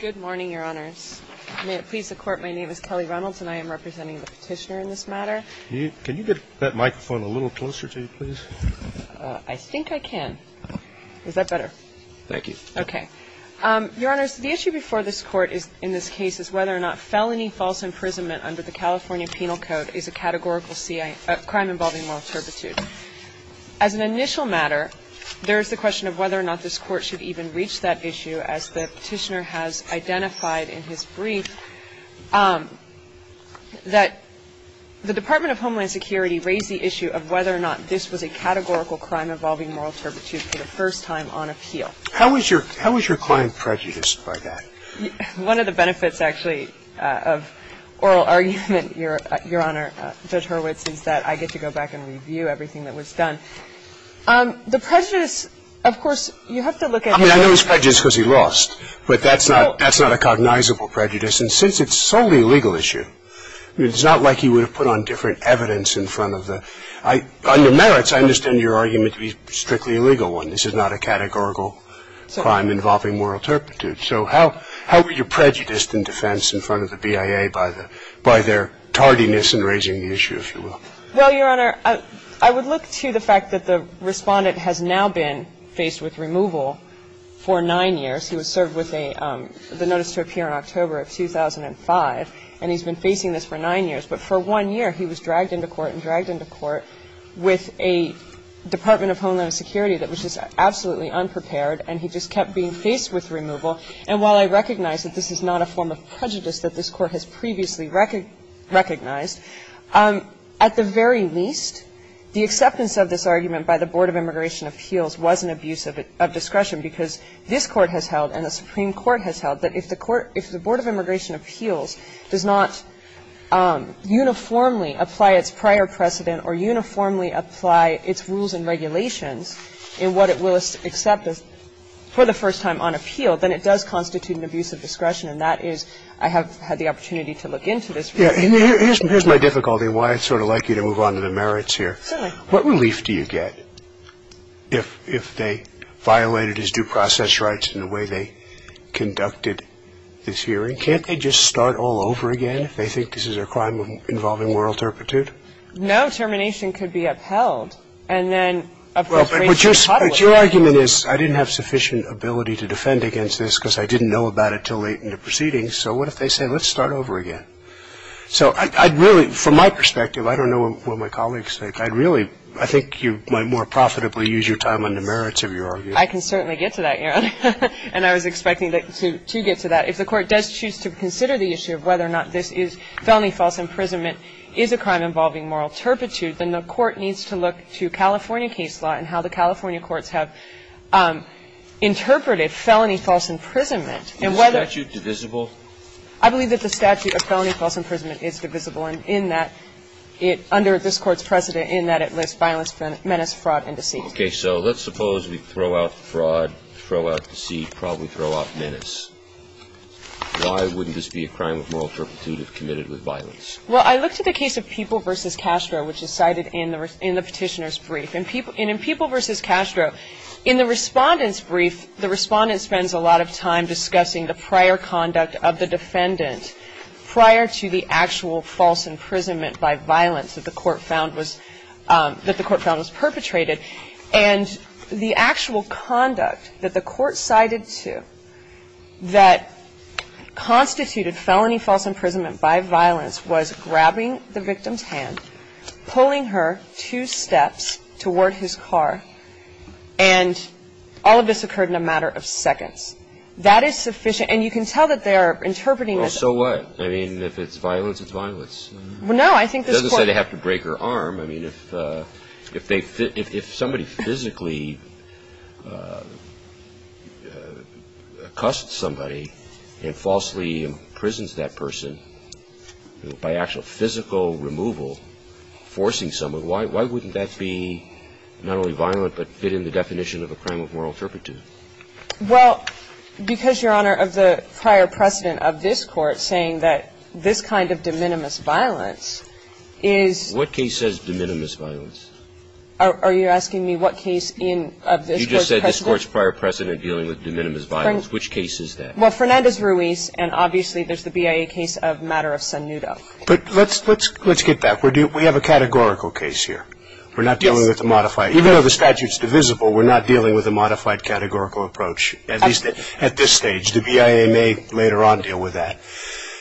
Good morning, Your Honors. May it please the Court, my name is Kelly Reynolds and I am representing the Petitioner in this matter. Can you get that microphone a little closer to you, please? I think I can. Is that better? Thank you. Okay. Your Honors, the issue before this Court in this case is whether or not felony false imprisonment under the California Penal Code is a categorical crime involving malturbitude. As an initial matter, there is the question of whether or not this Court should even reach that issue, as the Petitioner has identified in his brief, that the Department of Homeland Security raised the issue of whether or not this was a categorical crime involving malturbitude for the first time on appeal. How was your client prejudiced by that? One of the benefits, actually, of oral argument, Your Honor, Judge Hurwitz, is that I get to go back and review everything that was done. The prejudice, of course, you have to look at the other. I mean, I know it's prejudice because he lost, but that's not a cognizable prejudice. And since it's solely a legal issue, it's not like he would have put on different evidence in front of the – under merits, I understand your argument to be strictly a legal one. This is not a categorical crime involving moral turpitude. So how were you prejudiced in defense in front of the BIA by their tardiness in raising the issue, if you will? Well, Your Honor, I would look to the fact that the Respondent has now been faced with removal for nine years. He was served with a – the notice to appear in October of 2005, and he's been facing this for nine years. But for one year, he was dragged into court and dragged into court with a Department of Homeland Security that was just absolutely unprepared, and he just kept being faced with removal. And while I recognize that this is not a form of prejudice that this Court has previously recognized, at the very least, the acceptance of this argument by the Board of Immigration Appeals was an abuse of discretion because this Court has held and the Supreme Court has held that if the Court – if the Board of Immigration Appeals does not uniformly apply its prior precedent or uniformly apply its rules and regulations in what it will accept for the first time on appeal, then it does constitute an abuse of discretion. And that is – I have had the opportunity to look into this. Yeah. And here's my difficulty and why I'd sort of like you to move on to the merits here. Certainly. What relief do you get if they violated his due process rights in the way they conducted this hearing? Can't they just start all over again if they think this is a crime involving moral turpitude? No. Termination could be upheld. And then – But your argument is I didn't have sufficient ability to defend against this because I didn't know about it until late in the proceedings. So what if they say, let's start over again? So I'd really – from my perspective, I don't know what my colleagues think. I'd really – I think you might more profitably use your time on the merits of your argument. I can certainly get to that, Your Honor. And I was expecting to get to that. If the Court does choose to consider the issue of whether or not this is felony false imprisonment is a crime involving moral turpitude, then the Court needs to look to California case law and how the California courts have interpreted felony false imprisonment and whether – Is the statute divisible? I believe that the statute of felony false imprisonment is divisible, in that it – under this Court's precedent, in that it lists violence, menace, fraud, and deceit. Okay. So let's suppose we throw out fraud, throw out deceit, probably throw out menace. Why wouldn't this be a crime of moral turpitude if committed with violence? Well, I looked at the case of People v. Castro, which is cited in the Petitioner's Brief. And in People v. Castro, in the Respondent's Brief, the Respondent spends a lot of time discussing the prior conduct of the defendant prior to the actual false imprisonment by violence that the Court found was – that the Court found was perpetrated. And the actual conduct that the Court cited to that constituted felony false imprisonment by violence was grabbing the victim's hand, pulling her two steps toward his car, and all of this occurred in a matter of seconds. That is sufficient. And you can tell that they are interpreting this. Well, so what? I mean, if it's violence, it's violence. Well, no. I think this Court – It doesn't say they have to break her arm. I mean, if they – if somebody physically accosts somebody and falsely imprisons that person by actual physical removal, forcing someone, why wouldn't that be not only violent but fit in the definition of a crime of moral turpitude? Well, because, Your Honor, of the prior precedent of this Court saying that this kind of de minimis violence is – What case says de minimis violence? Are you asking me what case in – of this Court's precedent? You just said this Court's prior precedent dealing with de minimis violence. Which case is that? Well, Fernandez-Ruiz, and obviously there's the BIA case of Matter of Sonudo. But let's get that. We have a categorical case here. We're not dealing with a modified – even though the statute's divisible, we're not dealing with a modified categorical approach, at least at this stage. The BIA may later on deal with that.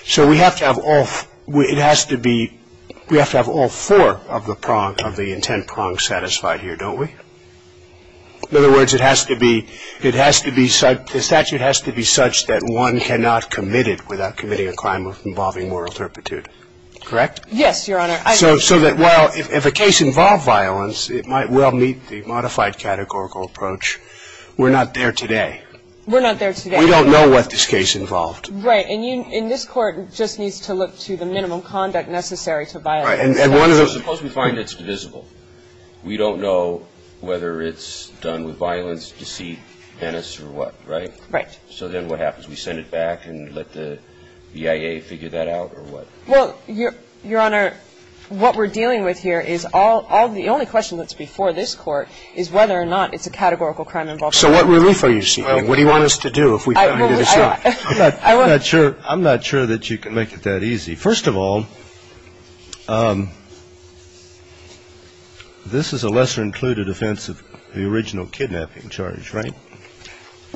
So we have to have all – it has to be – we have to have all four of the prong – of the intent prong satisfied here, don't we? In other words, it has to be – it has to be – the statute has to be such that one cannot commit it without committing a crime involving moral turpitude. Correct? Yes, Your Honor. So that while – if a case involved violence, it might well meet the modified categorical approach. We're not there today. We're not there today. We don't know what this case involved. Right. And you – and this Court just needs to look to the minimum conduct necessary to violate the statute. Right. And one of the – Suppose we find it's divisible. We don't know whether it's done with violence, deceit, venice or what, right? Right. So then what happens? We send it back and let the BIA figure that out or what? Well, Your Honor, what we're dealing with here is all – all – the only question that's before this Court is whether or not it's a categorical crime involved. So what relief are you seeking? What do you want us to do if we find it? I'm not sure – I'm not sure that you can make it that easy. First of all, this is a lesser included offense of the original kidnapping charge, right?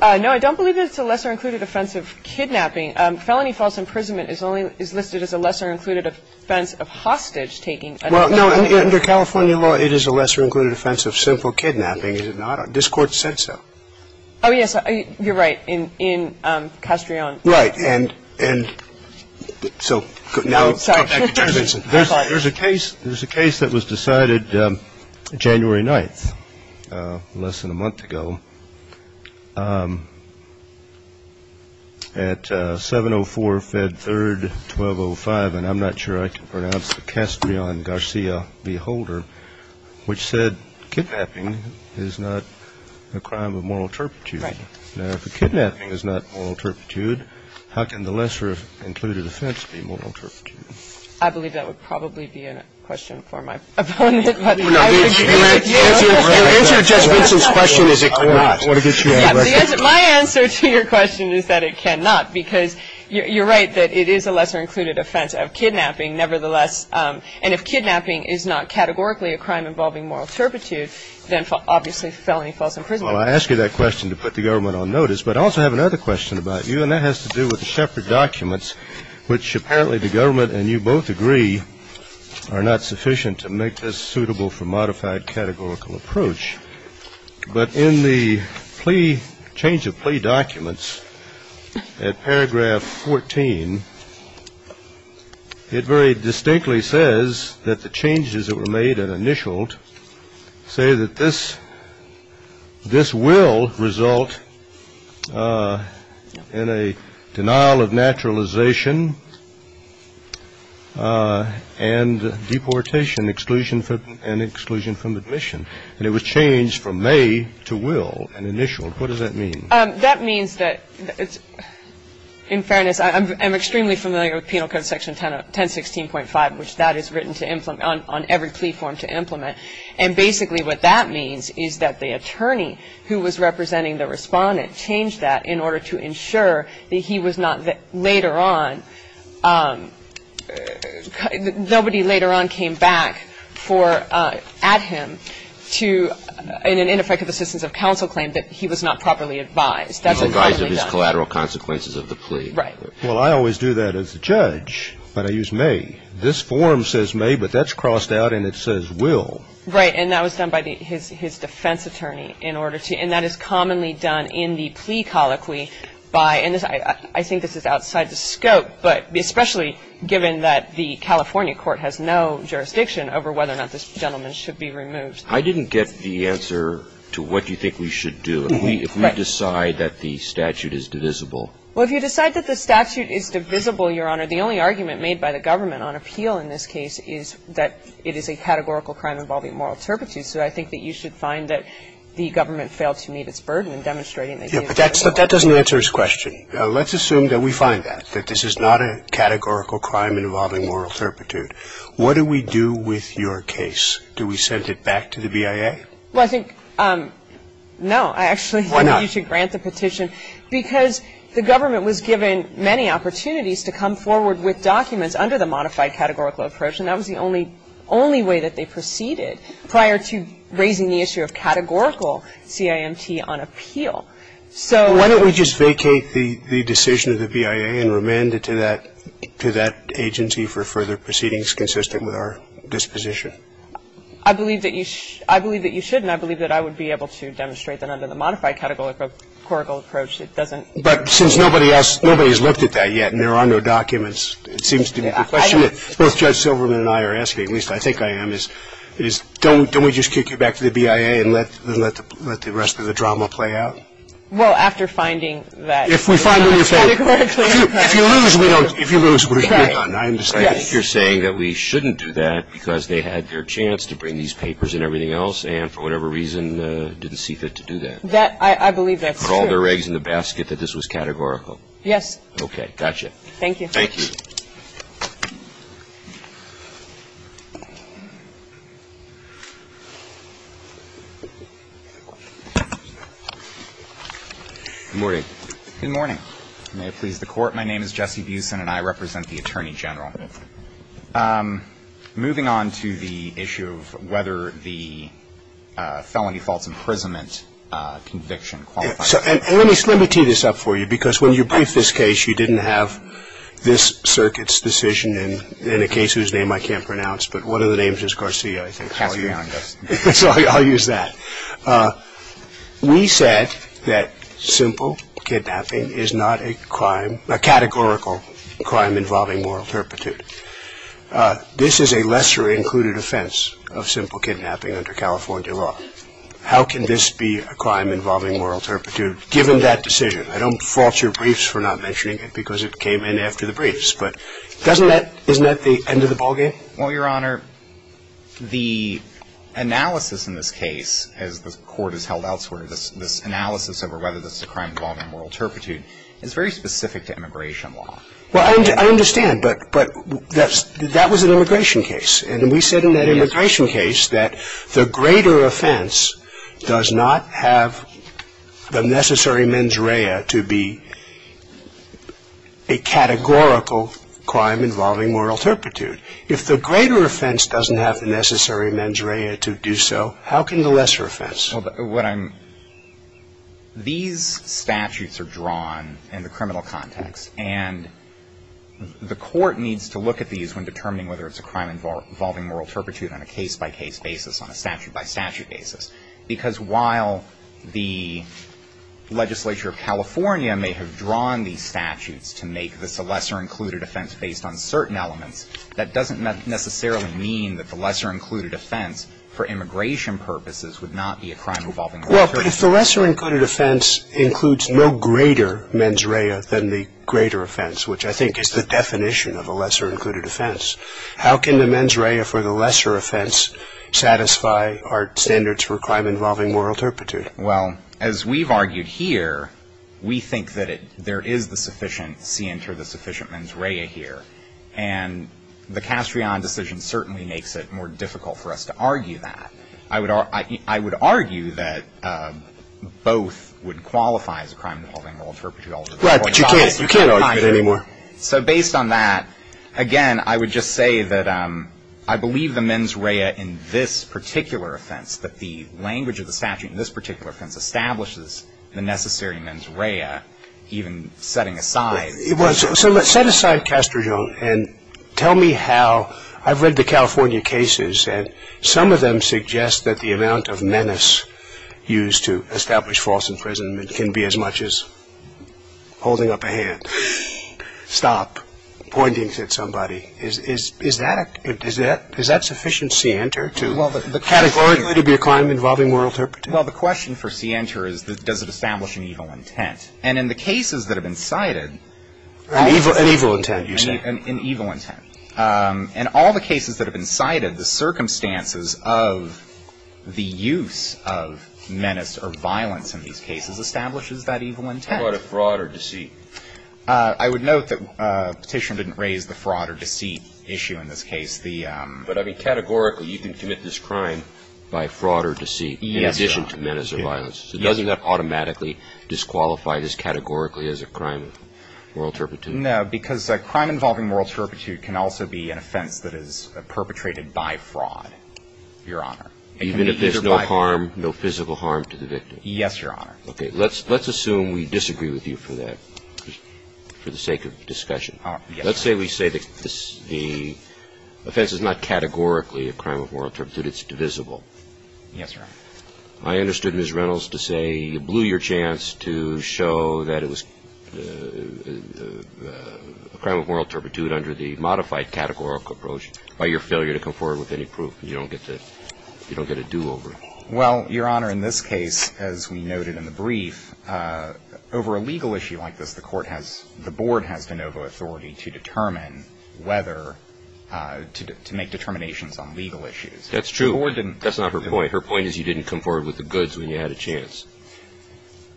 No, I don't believe it's a lesser included offense of kidnapping. Felony false imprisonment is only – is listed as a lesser included offense of hostage taking. Well, no, under California law, it is a lesser included offense of simple kidnapping, is it not? This Court said so. Oh, yes. You're right. In – in Castrillon. Right. And – and so – Sorry. There's a case – there's a case that was decided January 9th, less than a month ago, at 704 Fed 3rd, 1205, and I'm not sure I can pronounce the Castrillon Garcia v. Holder, which said kidnapping is not a crime of moral turpitude. Right. Now, if a kidnapping is not moral turpitude, how can the lesser included offense be moral turpitude? I believe that would probably be a question for my opponent, but I would agree with you. Your answer to Judge Vincent's question is it cannot. My answer to your question is that it cannot, because you're right that it is a lesser included offense of kidnapping nevertheless, and if kidnapping is not categorically a crime involving moral turpitude, then obviously felony false imprisonment. Well, I ask you that question to put the government on notice, but I also have another question about you, and that has to do with the Shepard documents, which apparently the government and you both agree are not sufficient to make this suitable for modified categorical approach, but in the change of plea documents at paragraph 14, it very distinctly says that the changes that were made and initialed say that this will result in a denial of naturalization and deportation and exclusion from admission, and it was changed from may to will and initialed. What does that mean? That means that, in fairness, I'm extremely familiar with Penal Code Section 1016.5, which that is written on every plea form to implement, and basically what that means is that the attorney who was representing the Respondent changed that in order to ensure that he was not later on, nobody later on came back for, at him, to, in an ineffective assistance of counsel claim that he was not properly advised. That's commonly done. He was advised of his collateral consequences of the plea. Right. Well, I always do that as a judge, but I use may. This form says may, but that's crossed out and it says will. Right, and that was done by his defense attorney in order to, and that is commonly done in the plea colloquy by, and I think this is outside the scope, but especially given that the California court has no jurisdiction over whether or not this gentleman should be removed. I didn't get the answer to what you think we should do if we decide that the statute is divisible. Well, if you decide that the statute is divisible, Your Honor, the only argument made by the government on appeal in this case is that it is a categorical crime involving moral turpitude. So I think that you should find that the government failed to meet its burden in demonstrating that it is a moral turpitude. Yeah, but that doesn't answer his question. Let's assume that we find that, that this is not a categorical crime involving moral turpitude. What do we do with your case? Do we send it back to the BIA? Well, I think, no, I actually think you should grant the petition. Why not? Because the government was given many opportunities to come forward with documents under the modified categorical approach, and that was the only way that they proceeded prior to raising the issue of categorical CIMT on appeal. So why don't we just vacate the decision of the BIA and remand it to that agency for further proceedings consistent with our disposition? I believe that you should. I believe that you shouldn't. I believe that I would be able to demonstrate that under the modified categorical approach it doesn't. But since nobody else, nobody has looked at that yet and there are no documents, it seems to me the question that both Judge Silverman and I are asking, at least I think I am, is don't we just kick it back to the BIA and let the rest of the drama play out? Well, after finding that it was not a categorical crime. If you lose, we're done. I understand. I think you're saying that we shouldn't do that because they had their chance to bring these papers and everything else and for whatever reason didn't see fit to do that. I believe that's true. Put all their eggs in the basket that this was categorical. Yes. Got you. Thank you. Good morning. Good morning. May it please the Court. My name is Jesse Busen and I represent the Attorney General. Moving on to the issue of whether the felony false imprisonment conviction qualifies. Let me tee this up for you because when you briefed this case, you didn't have this circuit's decision and in a case whose name I can't pronounce, but one of the names is Garcia, I think. I'll use that. We said that simple kidnapping is not a crime, a categorical crime involving moral turpitude. This is a lesser included offense of simple kidnapping under California law. How can this be a crime involving moral turpitude given that decision? I don't fault your briefs for not mentioning it because it came in after the briefs, but isn't that the end of the ballgame? Well, Your Honor, the analysis in this case as the Court has held elsewhere, this analysis over whether this is a crime involving moral turpitude is very specific to immigration law. Well, I understand, but that was an immigration case and we said in that immigration case that the greater offense does not have the necessary mens rea to be a categorical crime involving moral turpitude. If the greater offense doesn't have the necessary mens rea to do so, how can the lesser offense? These statutes are drawn in the criminal context and the Court needs to look at these when determining whether it's a crime involving moral turpitude on a case-by-case basis, on a statute-by-statute basis. Because while the legislature of California may have drawn these statutes to make this a lesser included offense based on certain elements, that doesn't necessarily mean that the lesser included offense for immigration purposes would not be a crime involving moral turpitude. Well, but if the lesser included offense includes no greater mens rea than the greater offense, which I think is the definition of a lesser included offense, how can the mens rea for the lesser offense satisfy our standards for crime involving moral turpitude? Well, as we've argued here, we think that there is the sufficient seance or the sufficient mens rea here. And the Castrillon decision certainly makes it more difficult for us to argue that. I would argue that both would qualify as a crime involving moral turpitude. Right, but you can't argue it anymore. So based on that, again, I would just say that I believe the mens rea in this particular offense, that the language of the statute in this particular offense establishes the necessary mens rea, even setting aside. Well, so let's set aside Castrillon and tell me how I've read the California cases, and some of them suggest that the amount of menace used to establish false imprisonment can be as much as holding up a hand, stop, pointing at somebody. Is that sufficient seance or to be a crime involving moral turpitude? Well, the question for seance or is does it establish an evil intent? And in the cases that have been cited. An evil intent, you say. An evil intent. And all the cases that have been cited, the circumstances of the use of menace or violence in these cases establishes that evil intent. Fraud or deceit. I would note that Petitioner didn't raise the fraud or deceit issue in this case. But, I mean, categorically you can commit this crime by fraud or deceit. Yes, Your Honor. In addition to menace or violence. So doesn't that automatically disqualify this categorically as a crime of moral turpitude? No, because a crime involving moral turpitude can also be an offense that is perpetrated by fraud, Your Honor. Even if there's no harm, no physical harm to the victim. Yes, Your Honor. Okay. Let's assume we disagree with you for that, for the sake of discussion. Let's say we say the offense is not categorically a crime of moral turpitude. It's divisible. Yes, Your Honor. I understood Ms. Reynolds to say you blew your chance to show that it was a crime of moral turpitude under the modified categorical approach by your failure to come forward with any proof. You don't get a do-over. Well, Your Honor, in this case, as we noted in the brief, over a legal issue like this, the court has the board has de novo authority to determine whether to make determinations on legal issues. That's true. The board didn't. That's not her point. Her point is you didn't come forward with the goods when you had a chance.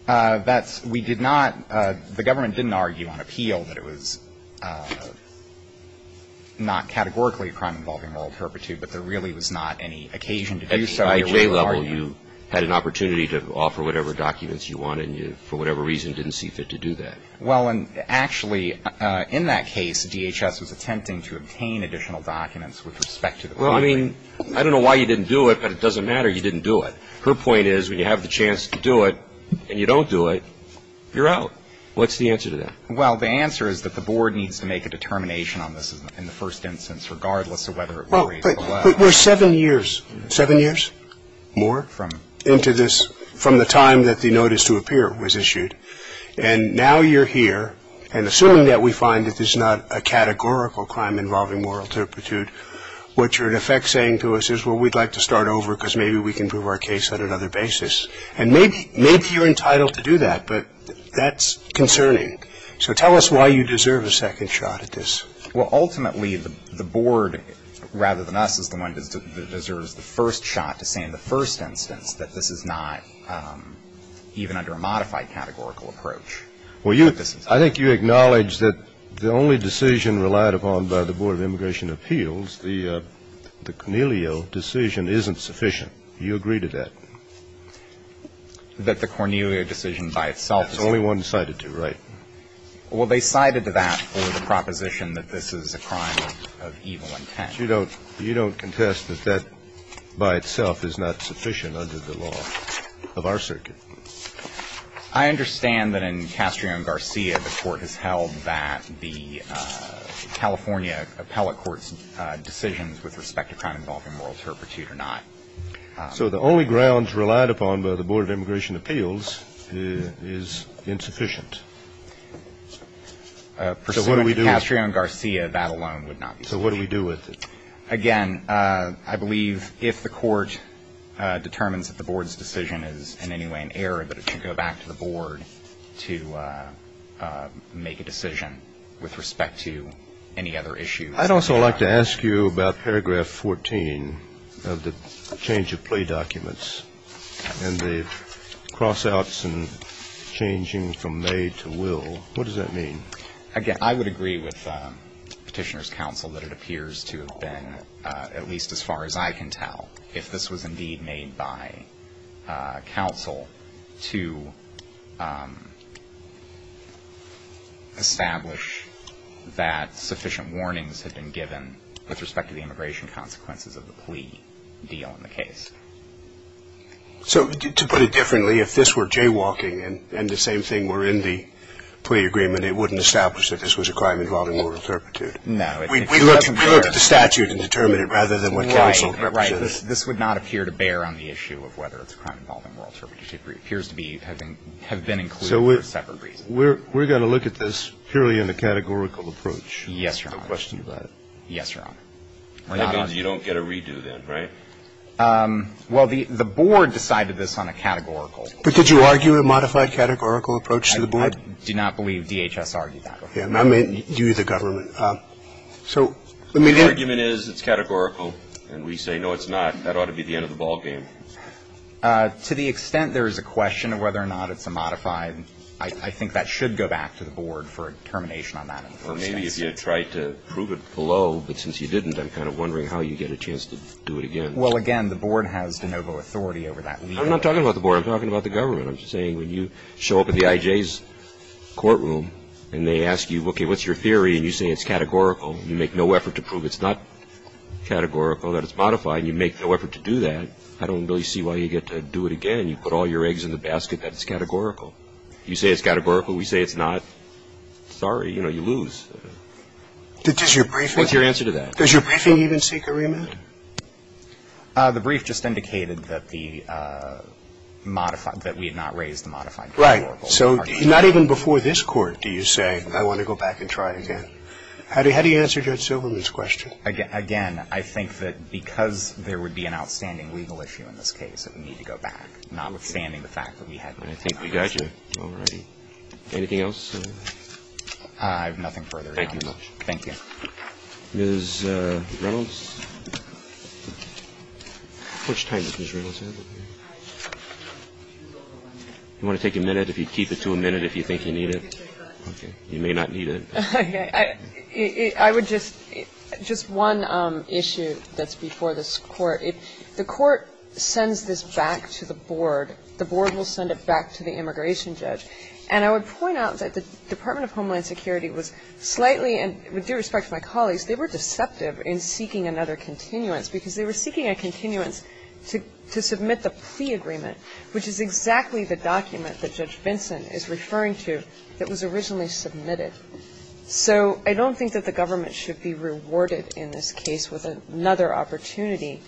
That's we did not, the government didn't argue on appeal that it was not categorically a crime involving moral turpitude, but there really was not any occasion to do so. Well, Your Honor, in this case, the board has de novo authority to determine whether to make determinations on legal issues. The board didn't. a crime involving moral turpitude. Well, Your Honor, in this case, as we noted in the brief, over a legal issue like this, the board didn't argue on appeal that it was not categorically a crime involving moral turpitude. The board didn't argue on appeal that it was not categorically a crime involving moral turpitude. Now you're here, and assuming that we find that there's not a categorical crime involving moral turpitude, what you're in effect saying to us is, well, we'd like to start over because maybe we can prove our case on another basis. And maybe you're entitled to do that, but that's concerning. So tell us why you deserve a second shot at this. Well, ultimately, the board, rather than us, is the one that deserves the first shot to say in the first instance that this is not even under a modified categorical approach. Well, you – I think you acknowledge that the only decision relied upon by the Board of Immigration Appeals, the Cornelio decision, isn't sufficient. Do you agree to that? That the Cornelio decision by itself is – There's only one cited to, right? Well, they cited that for the proposition that this is a crime of evil intent. But you don't – you don't contest that that by itself is not sufficient under the law of our circuit. I understand that in Castrillo v. Garcia, the Court has held that the California appellate court's decisions with respect to crime involving moral turpitude are not. So the only grounds relied upon by the Board of Immigration Appeals is insufficient. Pursuant to Castrillo v. Garcia, that alone would not be sufficient. So what do we do with it? Again, I believe if the Court determines that the Board's decision is in any way an error, that it should go back to the Board to make a decision with respect to any other issues. I'd also like to ask you about paragraph 14 of the change of plea documents and the cross-outs and changing from made to will. What does that mean? Again, I would agree with Petitioner's counsel that it appears to have been, at least as far as I can tell, if this was indeed made by counsel, to establish that sufficient warnings had been given with respect to the immigration consequences of the plea deal in the case. So to put it differently, if this were jaywalking and the same thing were in the plea agreement, it wouldn't establish that this was a crime involving moral turpitude? No. We looked at the statute and determined it rather than what counsel represented. Right. This would not appear to bear on the issue of whether it's a crime involving moral turpitude. It appears to have been included for a separate reason. So we're going to look at this purely in the categorical approach? Yes, Your Honor. No question about it? Yes, Your Honor. That means you don't get a redo then, right? Well, the board decided this on a categorical. But did you argue a modified categorical approach to the board? I do not believe DHS argued that. I mean, you, the government. So let me get to it. The argument is it's categorical, and we say, no, it's not. That ought to be the end of the ballgame. To the extent there is a question of whether or not it's a modified, I think that should go back to the board for a determination on that in the first instance. Or maybe if you had tried to prove it below, but since you didn't, I'm kind of wondering how you get a chance to do it again. Well, again, the board has de novo authority over that. I'm not talking about the board. I'm talking about the government. I'm saying when you show up at the IJ's courtroom and they ask you, okay, what's your theory, and you say it's categorical, you make no effort to prove it's not categorical, that it's modified, and you make no effort to do that, I don't really see why you get to do it again. You put all your eggs in the basket that it's categorical. You say it's categorical. We say it's not. Sorry. You know, you lose. What's your answer to that? Does your briefing even seek a remand? The brief just indicated that the modified – that we had not raised the modified categorical. Right. So not even before this Court do you say, I want to go back and try again. How do you answer Judge Silverman's question? Again, I think that because there would be an outstanding legal issue in this case, that we need to go back, notwithstanding the fact that we had not raised it. I think we got you. All right. Anything else? I have nothing further. Thank you, Your Honor. Thank you. Ms. Reynolds? How much time does Ms. Reynolds have? Do you want to take a minute? If you'd keep it to a minute if you think you need it. Okay. You may not need it. Okay. I would just – just one issue that's before this Court. The Court sends this back to the board. The board will send it back to the immigration judge. And I would point out that the Department of Homeland Security was slightly deceptive in seeking another continuance, because they were seeking a continuance to submit the plea agreement, which is exactly the document that Judge Vinson is referring to that was originally submitted. So I don't think that the government should be rewarded in this case with another opportunity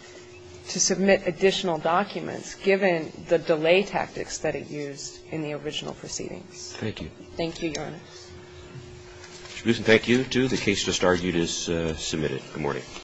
to submit additional documents, given the delay tactics that it used in the original proceedings. Thank you. Thank you, Your Honor. Thank you, too. The case just argued is submitted. Good morning.